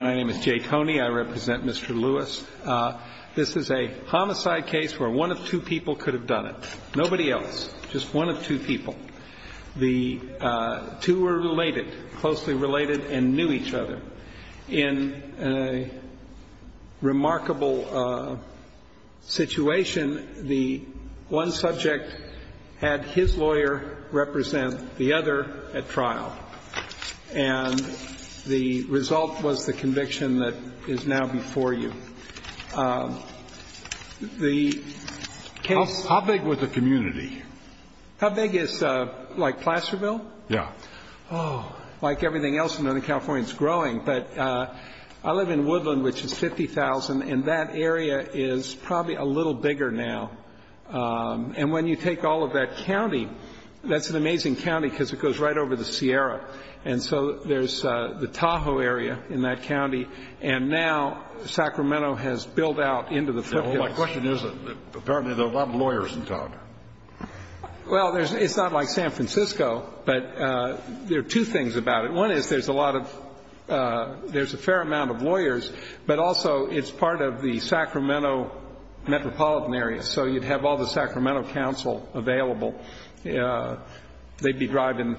My name is Jay Toney. I represent Mr. Lewis. This is a homicide case where one of two people could have done it. Nobody else. Just one of two people. The two were related, closely related, and knew each other. In a remarkable situation, the one subject had his lawyer represent the other at trial. And the result was the conviction that is now before you. How big was the community? How big is, like, Placerville? Yeah. Oh, like everything else in Northern California, it's growing. But I live in Woodland, which is 50,000, and that area is probably a little bigger now. And when you take all of that county, that's an amazing county because it goes right over the Sierra. And so there's the Tahoe area in that county, and now Sacramento has built out into the foothills. My question is, apparently there are a lot of lawyers in town. Well, it's not like San Francisco, but there are two things about it. One is there's a lot of – there's a fair amount of lawyers, but also it's part of the Sacramento metropolitan area. So you'd have all the Sacramento council available. They'd be driving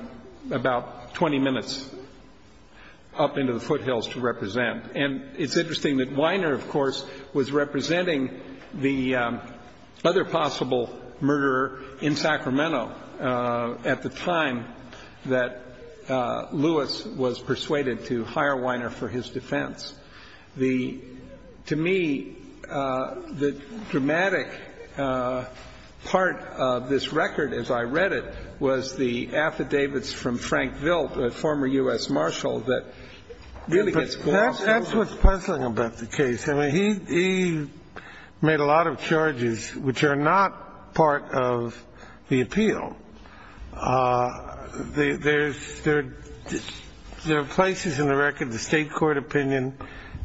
about 20 minutes up into the foothills to represent. And it's interesting that Weiner, of course, was representing the other possible murderer in Sacramento at the time that Lewis was persuaded to hire Weiner for his defense. To me, the dramatic part of this record, as I read it, was the affidavits from Frank Vilt, a former U.S. marshal, that really gets gone. That's what's puzzling about the case. I mean, he made a lot of charges which are not part of the appeal. There are places in the record, the state court opinion,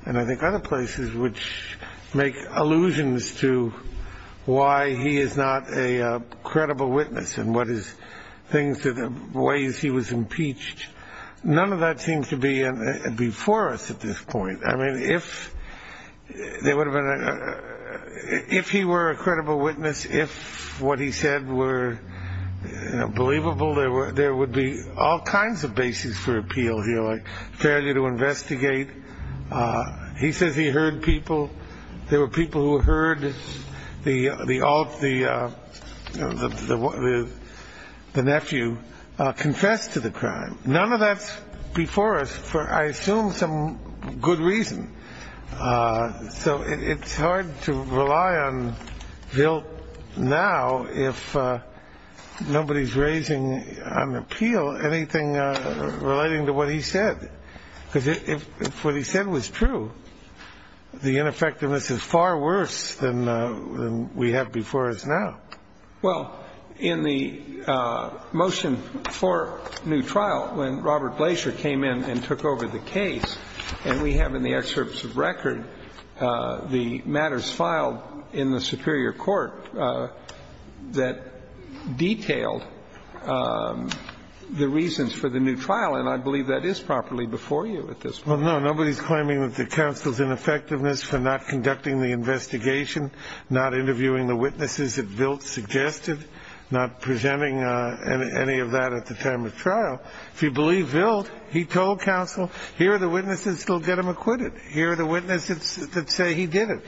and I think other places, which make allusions to why he is not a credible witness and what his things – the ways he was impeached. None of that seems to be before us at this point. I mean, if there would have been a – if he were a credible witness, if what he said were believable, there would be all kinds of basis for appeal here, like failure to investigate. He says he heard people. There were people who heard the nephew confess to the crime. None of that's before us for, I assume, some good reason. So it's hard to rely on Vilt now if nobody's raising on appeal anything relating to what he said, because if what he said was true, the ineffectiveness is far worse than we have before us now. Well, in the motion for new trial, when Robert Blaser came in and took over the case, and we have in the excerpts of record the matters filed in the superior court that detailed the reasons for the new trial, and I believe that is properly before you at this point. Well, no, nobody's claiming that the counsel's ineffectiveness for not conducting the investigation, not interviewing the witnesses that Vilt suggested, not presenting any of that at the time of trial. If you believe Vilt, he told counsel, here are the witnesses that will get him acquitted. Here are the witnesses that say he did it.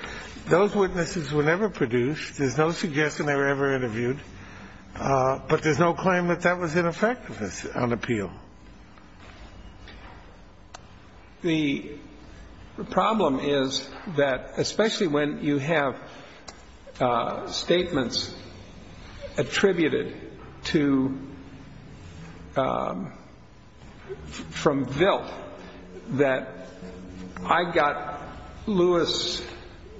Those witnesses were never produced. There's no suggestion they were ever interviewed. But there's no claim that that was ineffectiveness on appeal. The problem is that especially when you have statements attributed to from Vilt that I got Lewis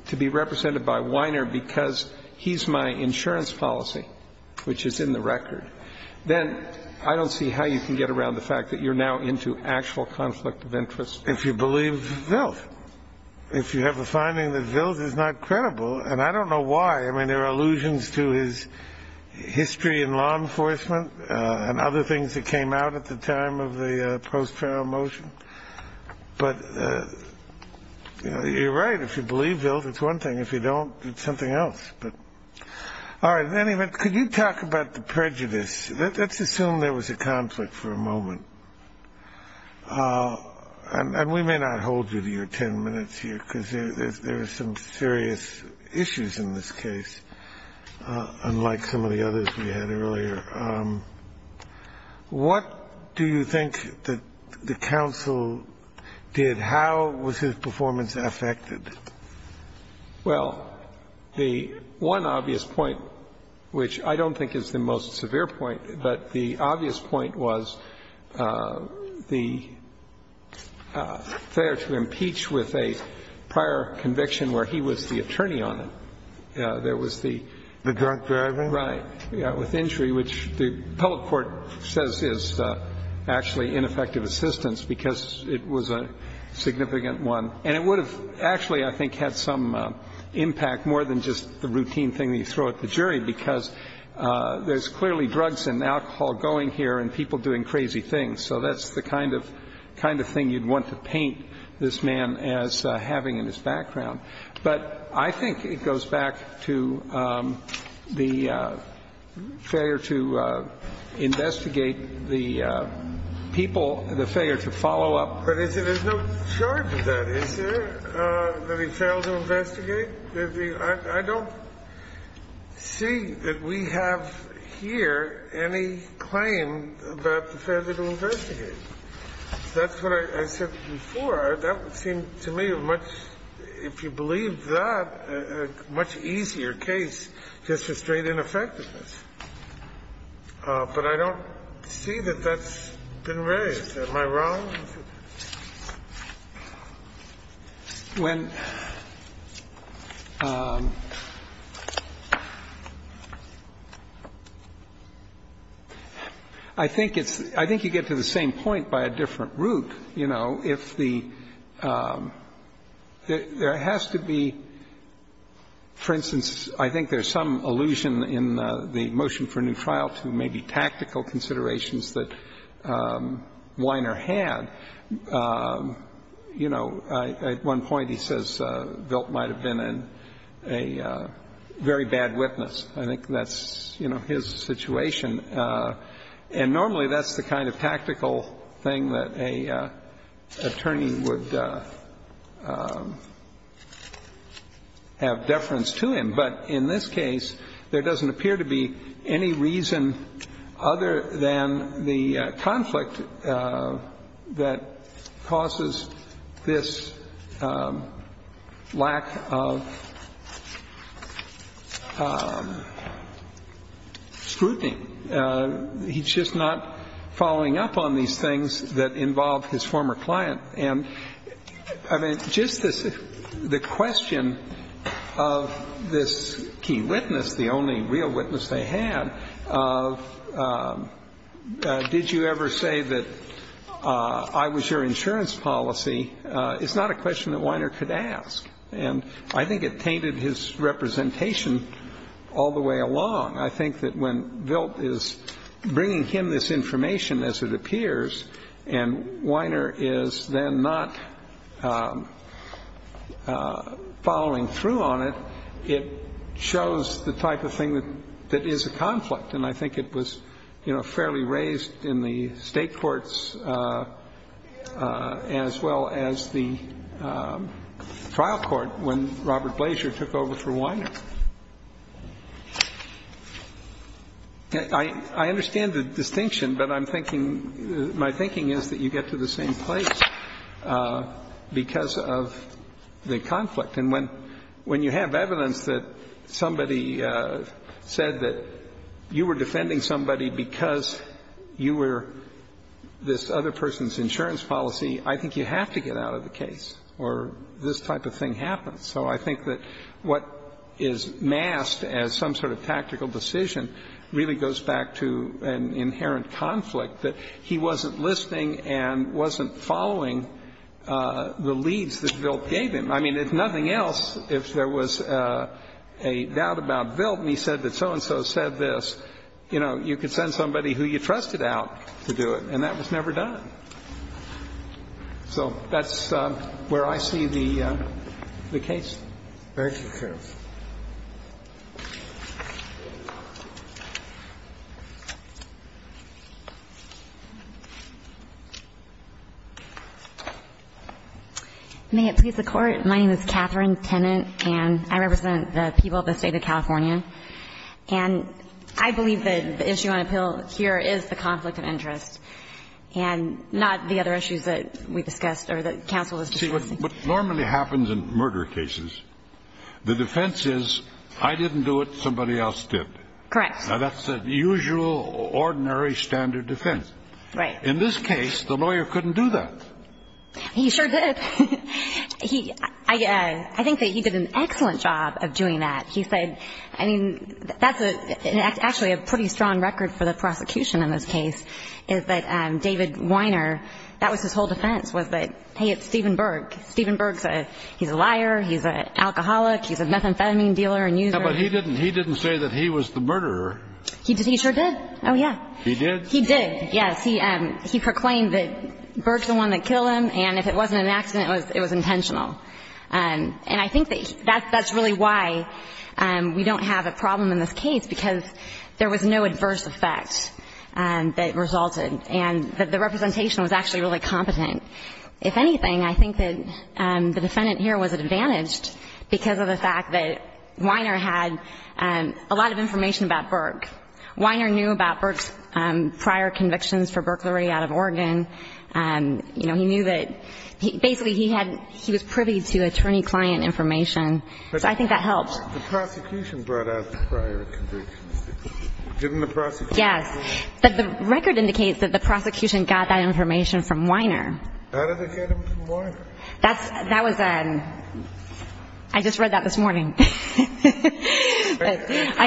to be represented by Weiner because he's my insurance policy, which is in the record, then I don't see how you can get around the fact that you're now into actual conflict of interest. If you believe Vilt, if you have a finding that Vilt is not credible, and I don't know why. I mean, there are allusions to his history in law enforcement and other things that came out at the time of the post-trial motion. But you're right. If you believe Vilt, it's one thing. If you don't, it's something else. All right. In any event, could you talk about the prejudice? Let's assume there was a conflict for a moment. And we may not hold you to your 10 minutes here, because there are some serious issues in this case, unlike some of the others we had earlier. What do you think that the counsel did? How was his performance affected? Well, the one obvious point, which I don't think is the most severe point, but the obvious point was the failure to impeach with a prior conviction where he was the attorney on it. There was the — The drunk driving? Right. With injury, which the public court says is actually ineffective assistance because it was a significant one. And it would have actually, I think, had some impact more than just the routine thing that you throw at the jury, because there's clearly drugs and alcohol going here and people doing crazy things. So that's the kind of thing you'd want to paint this man as having in his background. But I think it goes back to the failure to investigate the people, the failure to follow up. But there's no charge of that, is there, that he failed to investigate? I don't see that we have here any claim about the failure to investigate. That's what I said before. That would seem to me a much — if you believe that, a much easier case just for straight ineffectiveness. But I don't see that that's been raised. Am I wrong? When — I think it's — I think you get to the same point by a different route. You know, if the — there has to be, for instance, I think there's some allusion in the motion for a new trial to maybe tactical considerations that Weiner had. You know, at one point he says Vilt might have been a very bad witness. I think that's, you know, his situation. And normally that's the kind of tactical thing that an attorney would have deference to him. But in this case, there doesn't appear to be any reason other than the conflict that causes this lack of scrutiny. He's just not following up on these things that involve his former client. And, I mean, just this — the question of this key witness, the only real witness they had, of did you ever say that I was your insurance policy, is not a question that Weiner could ask. And I think it tainted his representation all the way along. I think that when Vilt is bringing him this information, as it appears, and Weiner is then not following through on it, it shows the type of thing that is a conflict. And I think it was, you know, fairly raised in the State courts as well as the trial court when Robert Blaser took over for Weiner. I understand the distinction, but I'm thinking — my thinking is that you get to the same place because of the conflict. And when you have evidence that somebody said that you were defending somebody because you were this other person's insurance policy, I think you have to get out of the case or this type of thing happens. So I think that what is masked as some sort of tactical decision really goes back to an inherent conflict that he wasn't listening and wasn't following the leads that Vilt gave him. I mean, if nothing else, if there was a doubt about Vilt and he said that so-and-so said this, you know, you could send somebody who you trusted out to do it, and that was never done. So that's where I see the case. Thank you, Your Honor. May it please the Court. My name is Catherine Tennant, and I represent the people of the State of California. And I believe that the issue on appeal here is the conflict of interest. And not the other issues that we discussed or that counsel was discussing. See, what normally happens in murder cases, the defense is I didn't do it, somebody else did. Correct. Now, that's the usual, ordinary, standard defense. Right. In this case, the lawyer couldn't do that. He sure did. I think that he did an excellent job of doing that. He said, I mean, that's actually a pretty strong record for the prosecution in this case, is that David Weiner, that was his whole defense, was that, hey, it's Stephen Berg. Stephen Berg, he's a liar. He's an alcoholic. He's a methamphetamine dealer and user. Yeah, but he didn't say that he was the murderer. He sure did. Oh, yeah. He did? He did, yes. He proclaimed that Berg's the one that killed him, and if it wasn't an accident, it was intentional. And I think that's really why we don't have a problem in this case, because there was no adverse effect that resulted, and the representation was actually really competent. If anything, I think that the defendant here was advantaged because of the fact that Weiner had a lot of information about Berg. Weiner knew about Berg's prior convictions for burglary out of Oregon. You know, he knew that he basically he had he was privy to attorney-client information. So I think that helped. The prosecution brought out the prior convictions. Didn't the prosecution? Yes. But the record indicates that the prosecution got that information from Weiner. How did they get it from Weiner? That was a I just read that this morning. I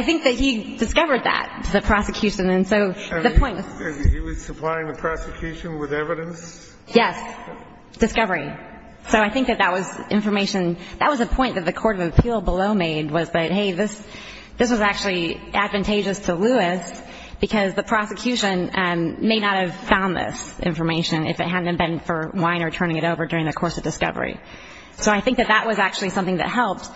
think that he discovered that, the prosecution, and so the point was. He was supplying the prosecution with evidence? Yes. Discovery. So I think that that was information. That was a point that the court of appeal below made was that, hey, this was actually advantageous to Lewis because the prosecution may not have found this information if it hadn't been for Weiner turning it over during the course of discovery. So I think that that was actually something that helped.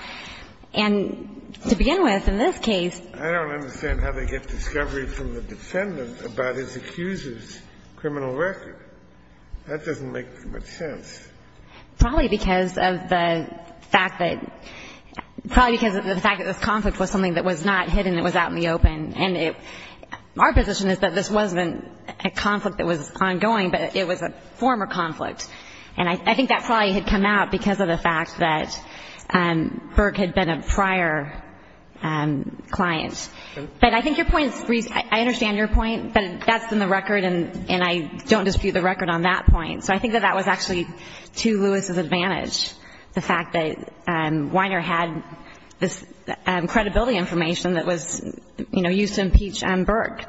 And to begin with, in this case. I don't understand how they get discovery from the defendant about his accuser's criminal record. That doesn't make much sense. Probably because of the fact that this conflict was something that was not hidden. It was out in the open. And our position is that this wasn't a conflict that was ongoing, but it was a former conflict. And I think that probably had come out because of the fact that Burke had been a prior client. But I think your point is I understand your point, but that's in the record, and I don't dispute the record on that point. So I think that that was actually to Lewis' advantage, the fact that Weiner had this credibility information that was used to impeach Burke.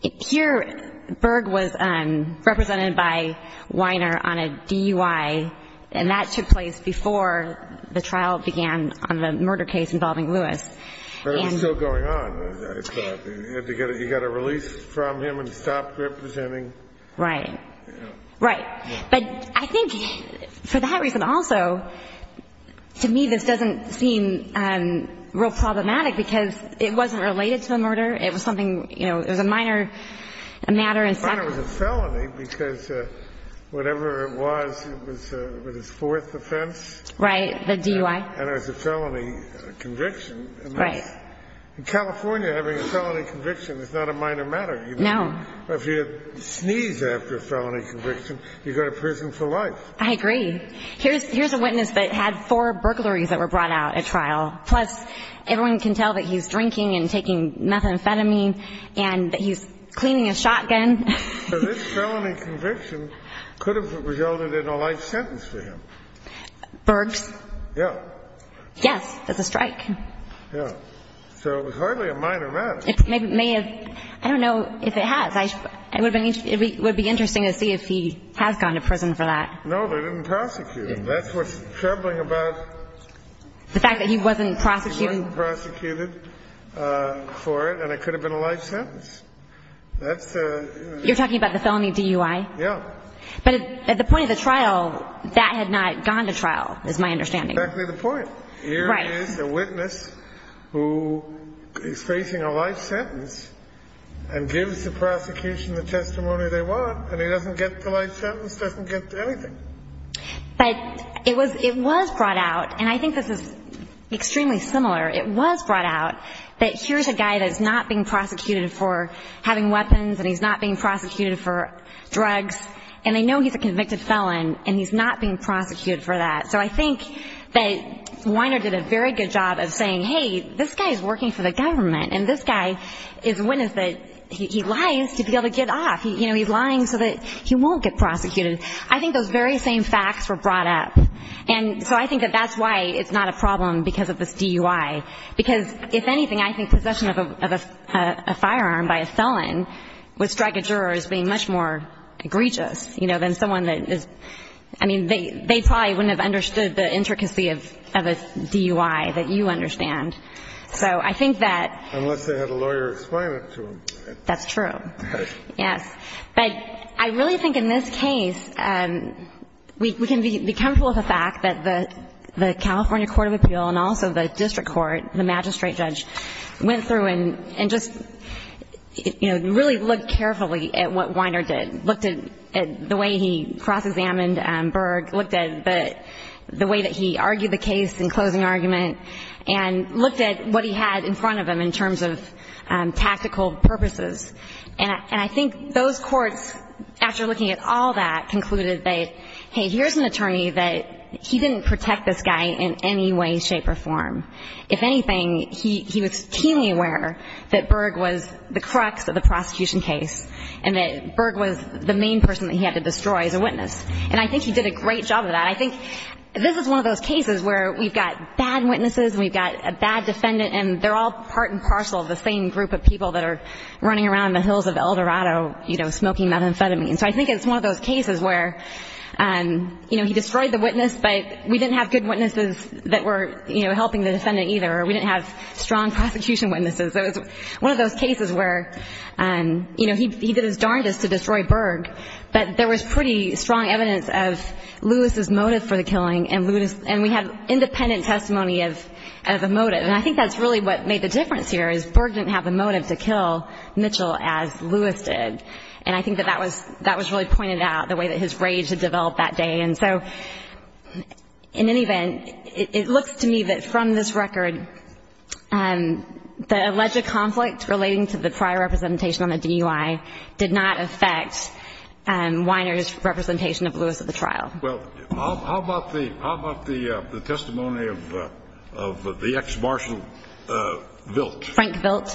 Here, Burke was represented by Weiner on a DUI, and that took place before the trial began on the murder case involving Lewis. But it was still going on, I thought. You had to get a release from him and stop representing. Right. Right. But I think for that reason also, to me, this doesn't seem real problematic because it wasn't related to a murder. It was something, you know, it was a minor matter. Weiner was a felony because whatever it was, it was his fourth offense. Right. The DUI. And it was a felony conviction. Right. In California, having a felony conviction is not a minor matter. No. If you sneeze after a felony conviction, you go to prison for life. I agree. Here's a witness that had four burglaries that were brought out at trial. Plus, everyone can tell that he's drinking and taking methamphetamine and that he's cleaning a shotgun. So this felony conviction could have resulted in a life sentence for him. Burgs? Yeah. Yes, as a strike. Yeah. So it was hardly a minor matter. I don't know if it has. It would be interesting to see if he has gone to prison for that. No, they didn't prosecute him. That's what's troubling about it. The fact that he wasn't prosecuted? He wasn't prosecuted for it, and it could have been a life sentence. That's the, you know. You're talking about the felony DUI? Yeah. But at the point of the trial, that had not gone to trial, is my understanding. That's exactly the point. Right. He is a witness who is facing a life sentence and gives the prosecution the testimony they want, and he doesn't get the life sentence, doesn't get anything. But it was brought out, and I think this is extremely similar. It was brought out that here's a guy that's not being prosecuted for having weapons, and he's not being prosecuted for drugs, and they know he's a convicted felon, and he's not being prosecuted for that. So I think that Weiner did a very good job of saying, hey, this guy is working for the government, and this guy is a witness that he lies to be able to get off. You know, he's lying so that he won't get prosecuted. I think those very same facts were brought up. And so I think that that's why it's not a problem because of this DUI, because if anything, I think possession of a firearm by a felon would strike a juror as being much more egregious, you know, than someone that is, I mean, they probably wouldn't have understood the intricacy of a DUI that you understand. So I think that unless they had a lawyer explain it to them. That's true. Yes. But I really think in this case, we can be comfortable with the fact that the California Court of Appeal and also the district court, the magistrate judge, went through and just, you know, really looked carefully at what Weiner did, looked at the way he cross-examined Berg, looked at the way that he argued the case in closing argument, and looked at what he had in front of him in terms of tactical purposes. And I think those courts, after looking at all that, concluded that, hey, here's an attorney that he didn't protect this guy in any way, shape, or form. If anything, he was keenly aware that Berg was the crux of the prosecution case and that Berg was the main person that he had to destroy as a witness. And I think he did a great job of that. I think this is one of those cases where we've got bad witnesses and we've got a bad defendant and they're all part and parcel of the same group of people that are running around in the hills of El Dorado, you know, smoking methamphetamine. So I think it's one of those cases where, you know, he destroyed the witness, but we didn't have good witnesses that were, you know, helping the defendant either, or we didn't have strong prosecution witnesses. So it's one of those cases where, you know, he did his darndest to destroy Berg, but there was pretty strong evidence of Lewis's motive for the killing, and we had independent testimony of the motive. And I think that's really what made the difference here, is Berg didn't have the motive to kill Mitchell as Lewis did. And I think that that was really pointed out, the way that his rage had developed that day. And so in any event, it looks to me that from this record, the alleged conflict relating to the prior representation on the DUI did not affect Weiner's representation of Lewis at the trial. Well, how about the testimony of the ex-martial Vilt? Frank Vilt.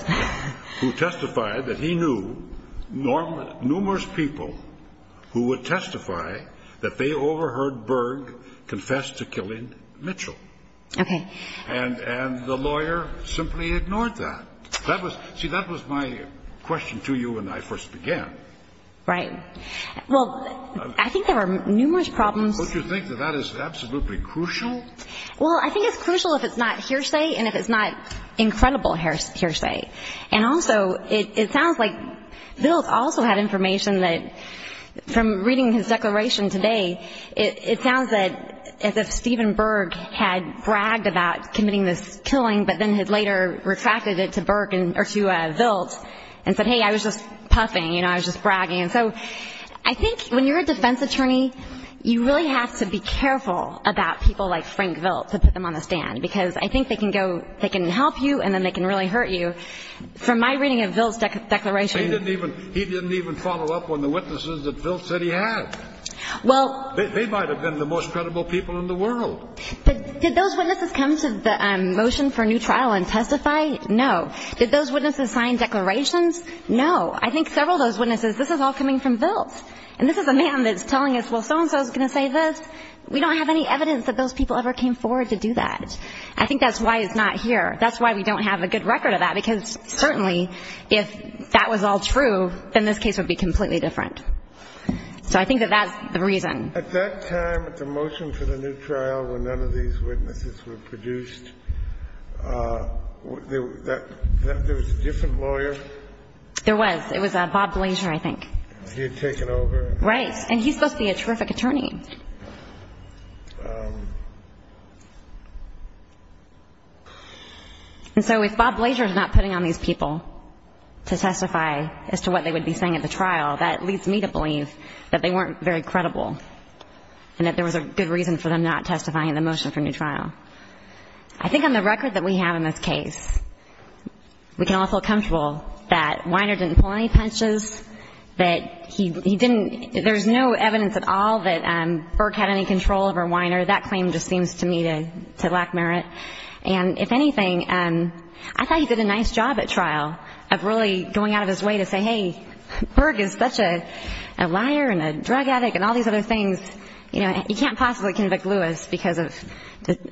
Who testified that he knew numerous people who would testify that they overheard Berg confess to killing Mitchell. Okay. And the lawyer simply ignored that. See, that was my question to you when I first began. Right. Well, I think there were numerous problems. Don't you think that that is absolutely crucial? Well, I think it's crucial if it's not hearsay and if it's not incredible hearsay. And also, it sounds like Vilt also had information that, from reading his declaration today, it sounds as if Steven Berg had bragged about committing this killing, but then had later retracted it to Vilt and said, hey, I was just puffing, you know, I was just bragging. And so I think when you're a defense attorney, you really have to be careful about people like Frank Vilt to put them on the stand because I think they can go, they can help you, and then they can really hurt you. From my reading of Vilt's declaration. He didn't even follow up on the witnesses that Vilt said he had. Well. They might have been the most credible people in the world. But did those witnesses come to the motion for a new trial and testify? No. Did those witnesses sign declarations? No. I think several of those witnesses, this is all coming from Vilt. And this is a man that's telling us, well, so-and-so is going to say this. We don't have any evidence that those people ever came forward to do that. I think that's why it's not here. That's why we don't have a good record of that because, certainly, if that was all true, then this case would be completely different. So I think that that's the reason. At that time, at the motion for the new trial, when none of these witnesses were produced, there was a different lawyer? There was. It was Bob Blaser, I think. He had taken over. Right. And he's supposed to be a terrific attorney. And so if Bob Blaser is not putting on these people to testify as to what they would be saying at the trial, that leads me to believe that they weren't very credible and that there was a good reason for them not testifying in the motion for a new trial. I think on the record that we have in this case, we can all feel comfortable that Weiner didn't pull any punches, that there's no evidence at all that Berg had any control over Weiner. That claim just seems to me to lack merit. And if anything, I thought he did a nice job at trial of really going out of his way to say, hey, Berg is such a liar and a drug addict and all these other things. He can't possibly convict Lewis because of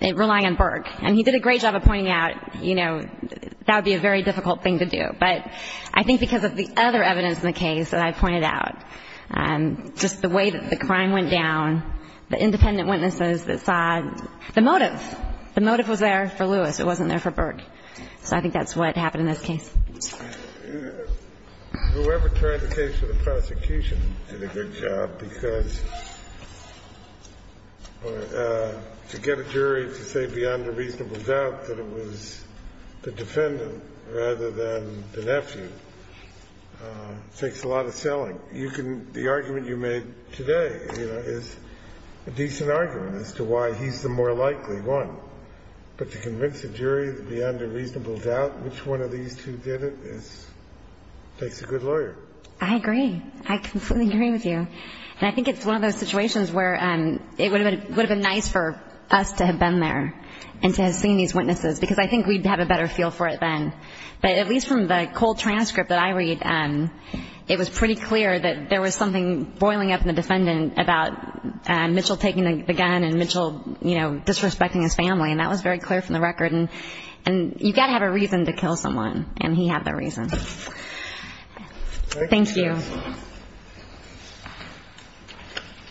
relying on Berg. And he did a great job of pointing out that would be a very difficult thing to do. But I think because of the other evidence in the case that I pointed out, just the way that the crime went down, the independent witnesses that saw the motive. The motive was there for Lewis. It wasn't there for Berg. So I think that's what happened in this case. Whoever tried the case for the prosecution did a good job because to get a jury to say beyond a reasonable doubt that it was the defendant rather than the nephew takes a lot of selling. The argument you made today is a decent argument as to why he's the more likely one. But to convince a jury beyond a reasonable doubt which one of these two did it takes a good lawyer. I agree. I completely agree with you. And I think it's one of those situations where it would have been nice for us to have been there and to have seen these witnesses because I think we'd have a better feel for it then. But at least from the cold transcript that I read, it was pretty clear that there was something boiling up in the defendant about Mitchell taking the gun and Mitchell disrespecting his family, and that was very clear from the record. And you've got to have a reason to kill someone, and he had that reason. Thank you.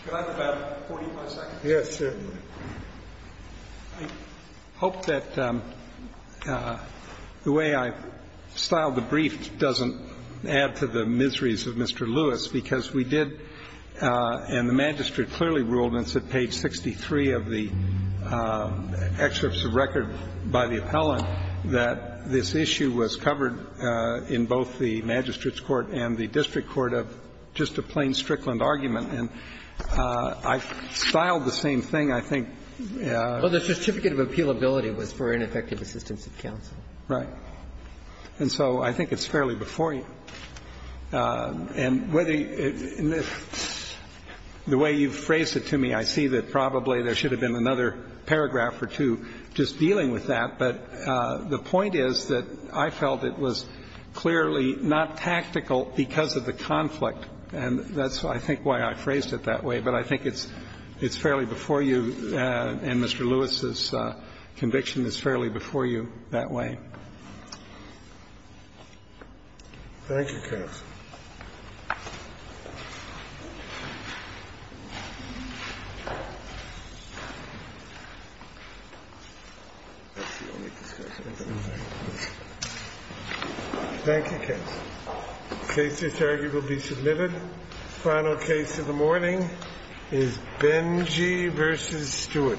Could I have about 40 more seconds? Yes, sir. I hope that the way I styled the brief doesn't add to the miseries of Mr. Lewis because we did And the magistrate clearly ruled, and it's at page 63 of the excerpts of record by the appellant, that this issue was covered in both the magistrate's court and the district court of just a plain Strickland argument. And I styled the same thing, I think. Well, the certificate of appealability was for ineffective assistance of counsel. Right. And so I think it's fairly before you. And whether it's the way you've phrased it to me, I see that probably there should have been another paragraph or two just dealing with that. But the point is that I felt it was clearly not tactical because of the conflict, and that's, I think, why I phrased it that way. But I think it's fairly before you, and Mr. Lewis's conviction is fairly before you that way. Thank you, counsel. Thank you, counsel. The case is heard. It will be submitted. The final case of the morning is Benjy v. Stewart.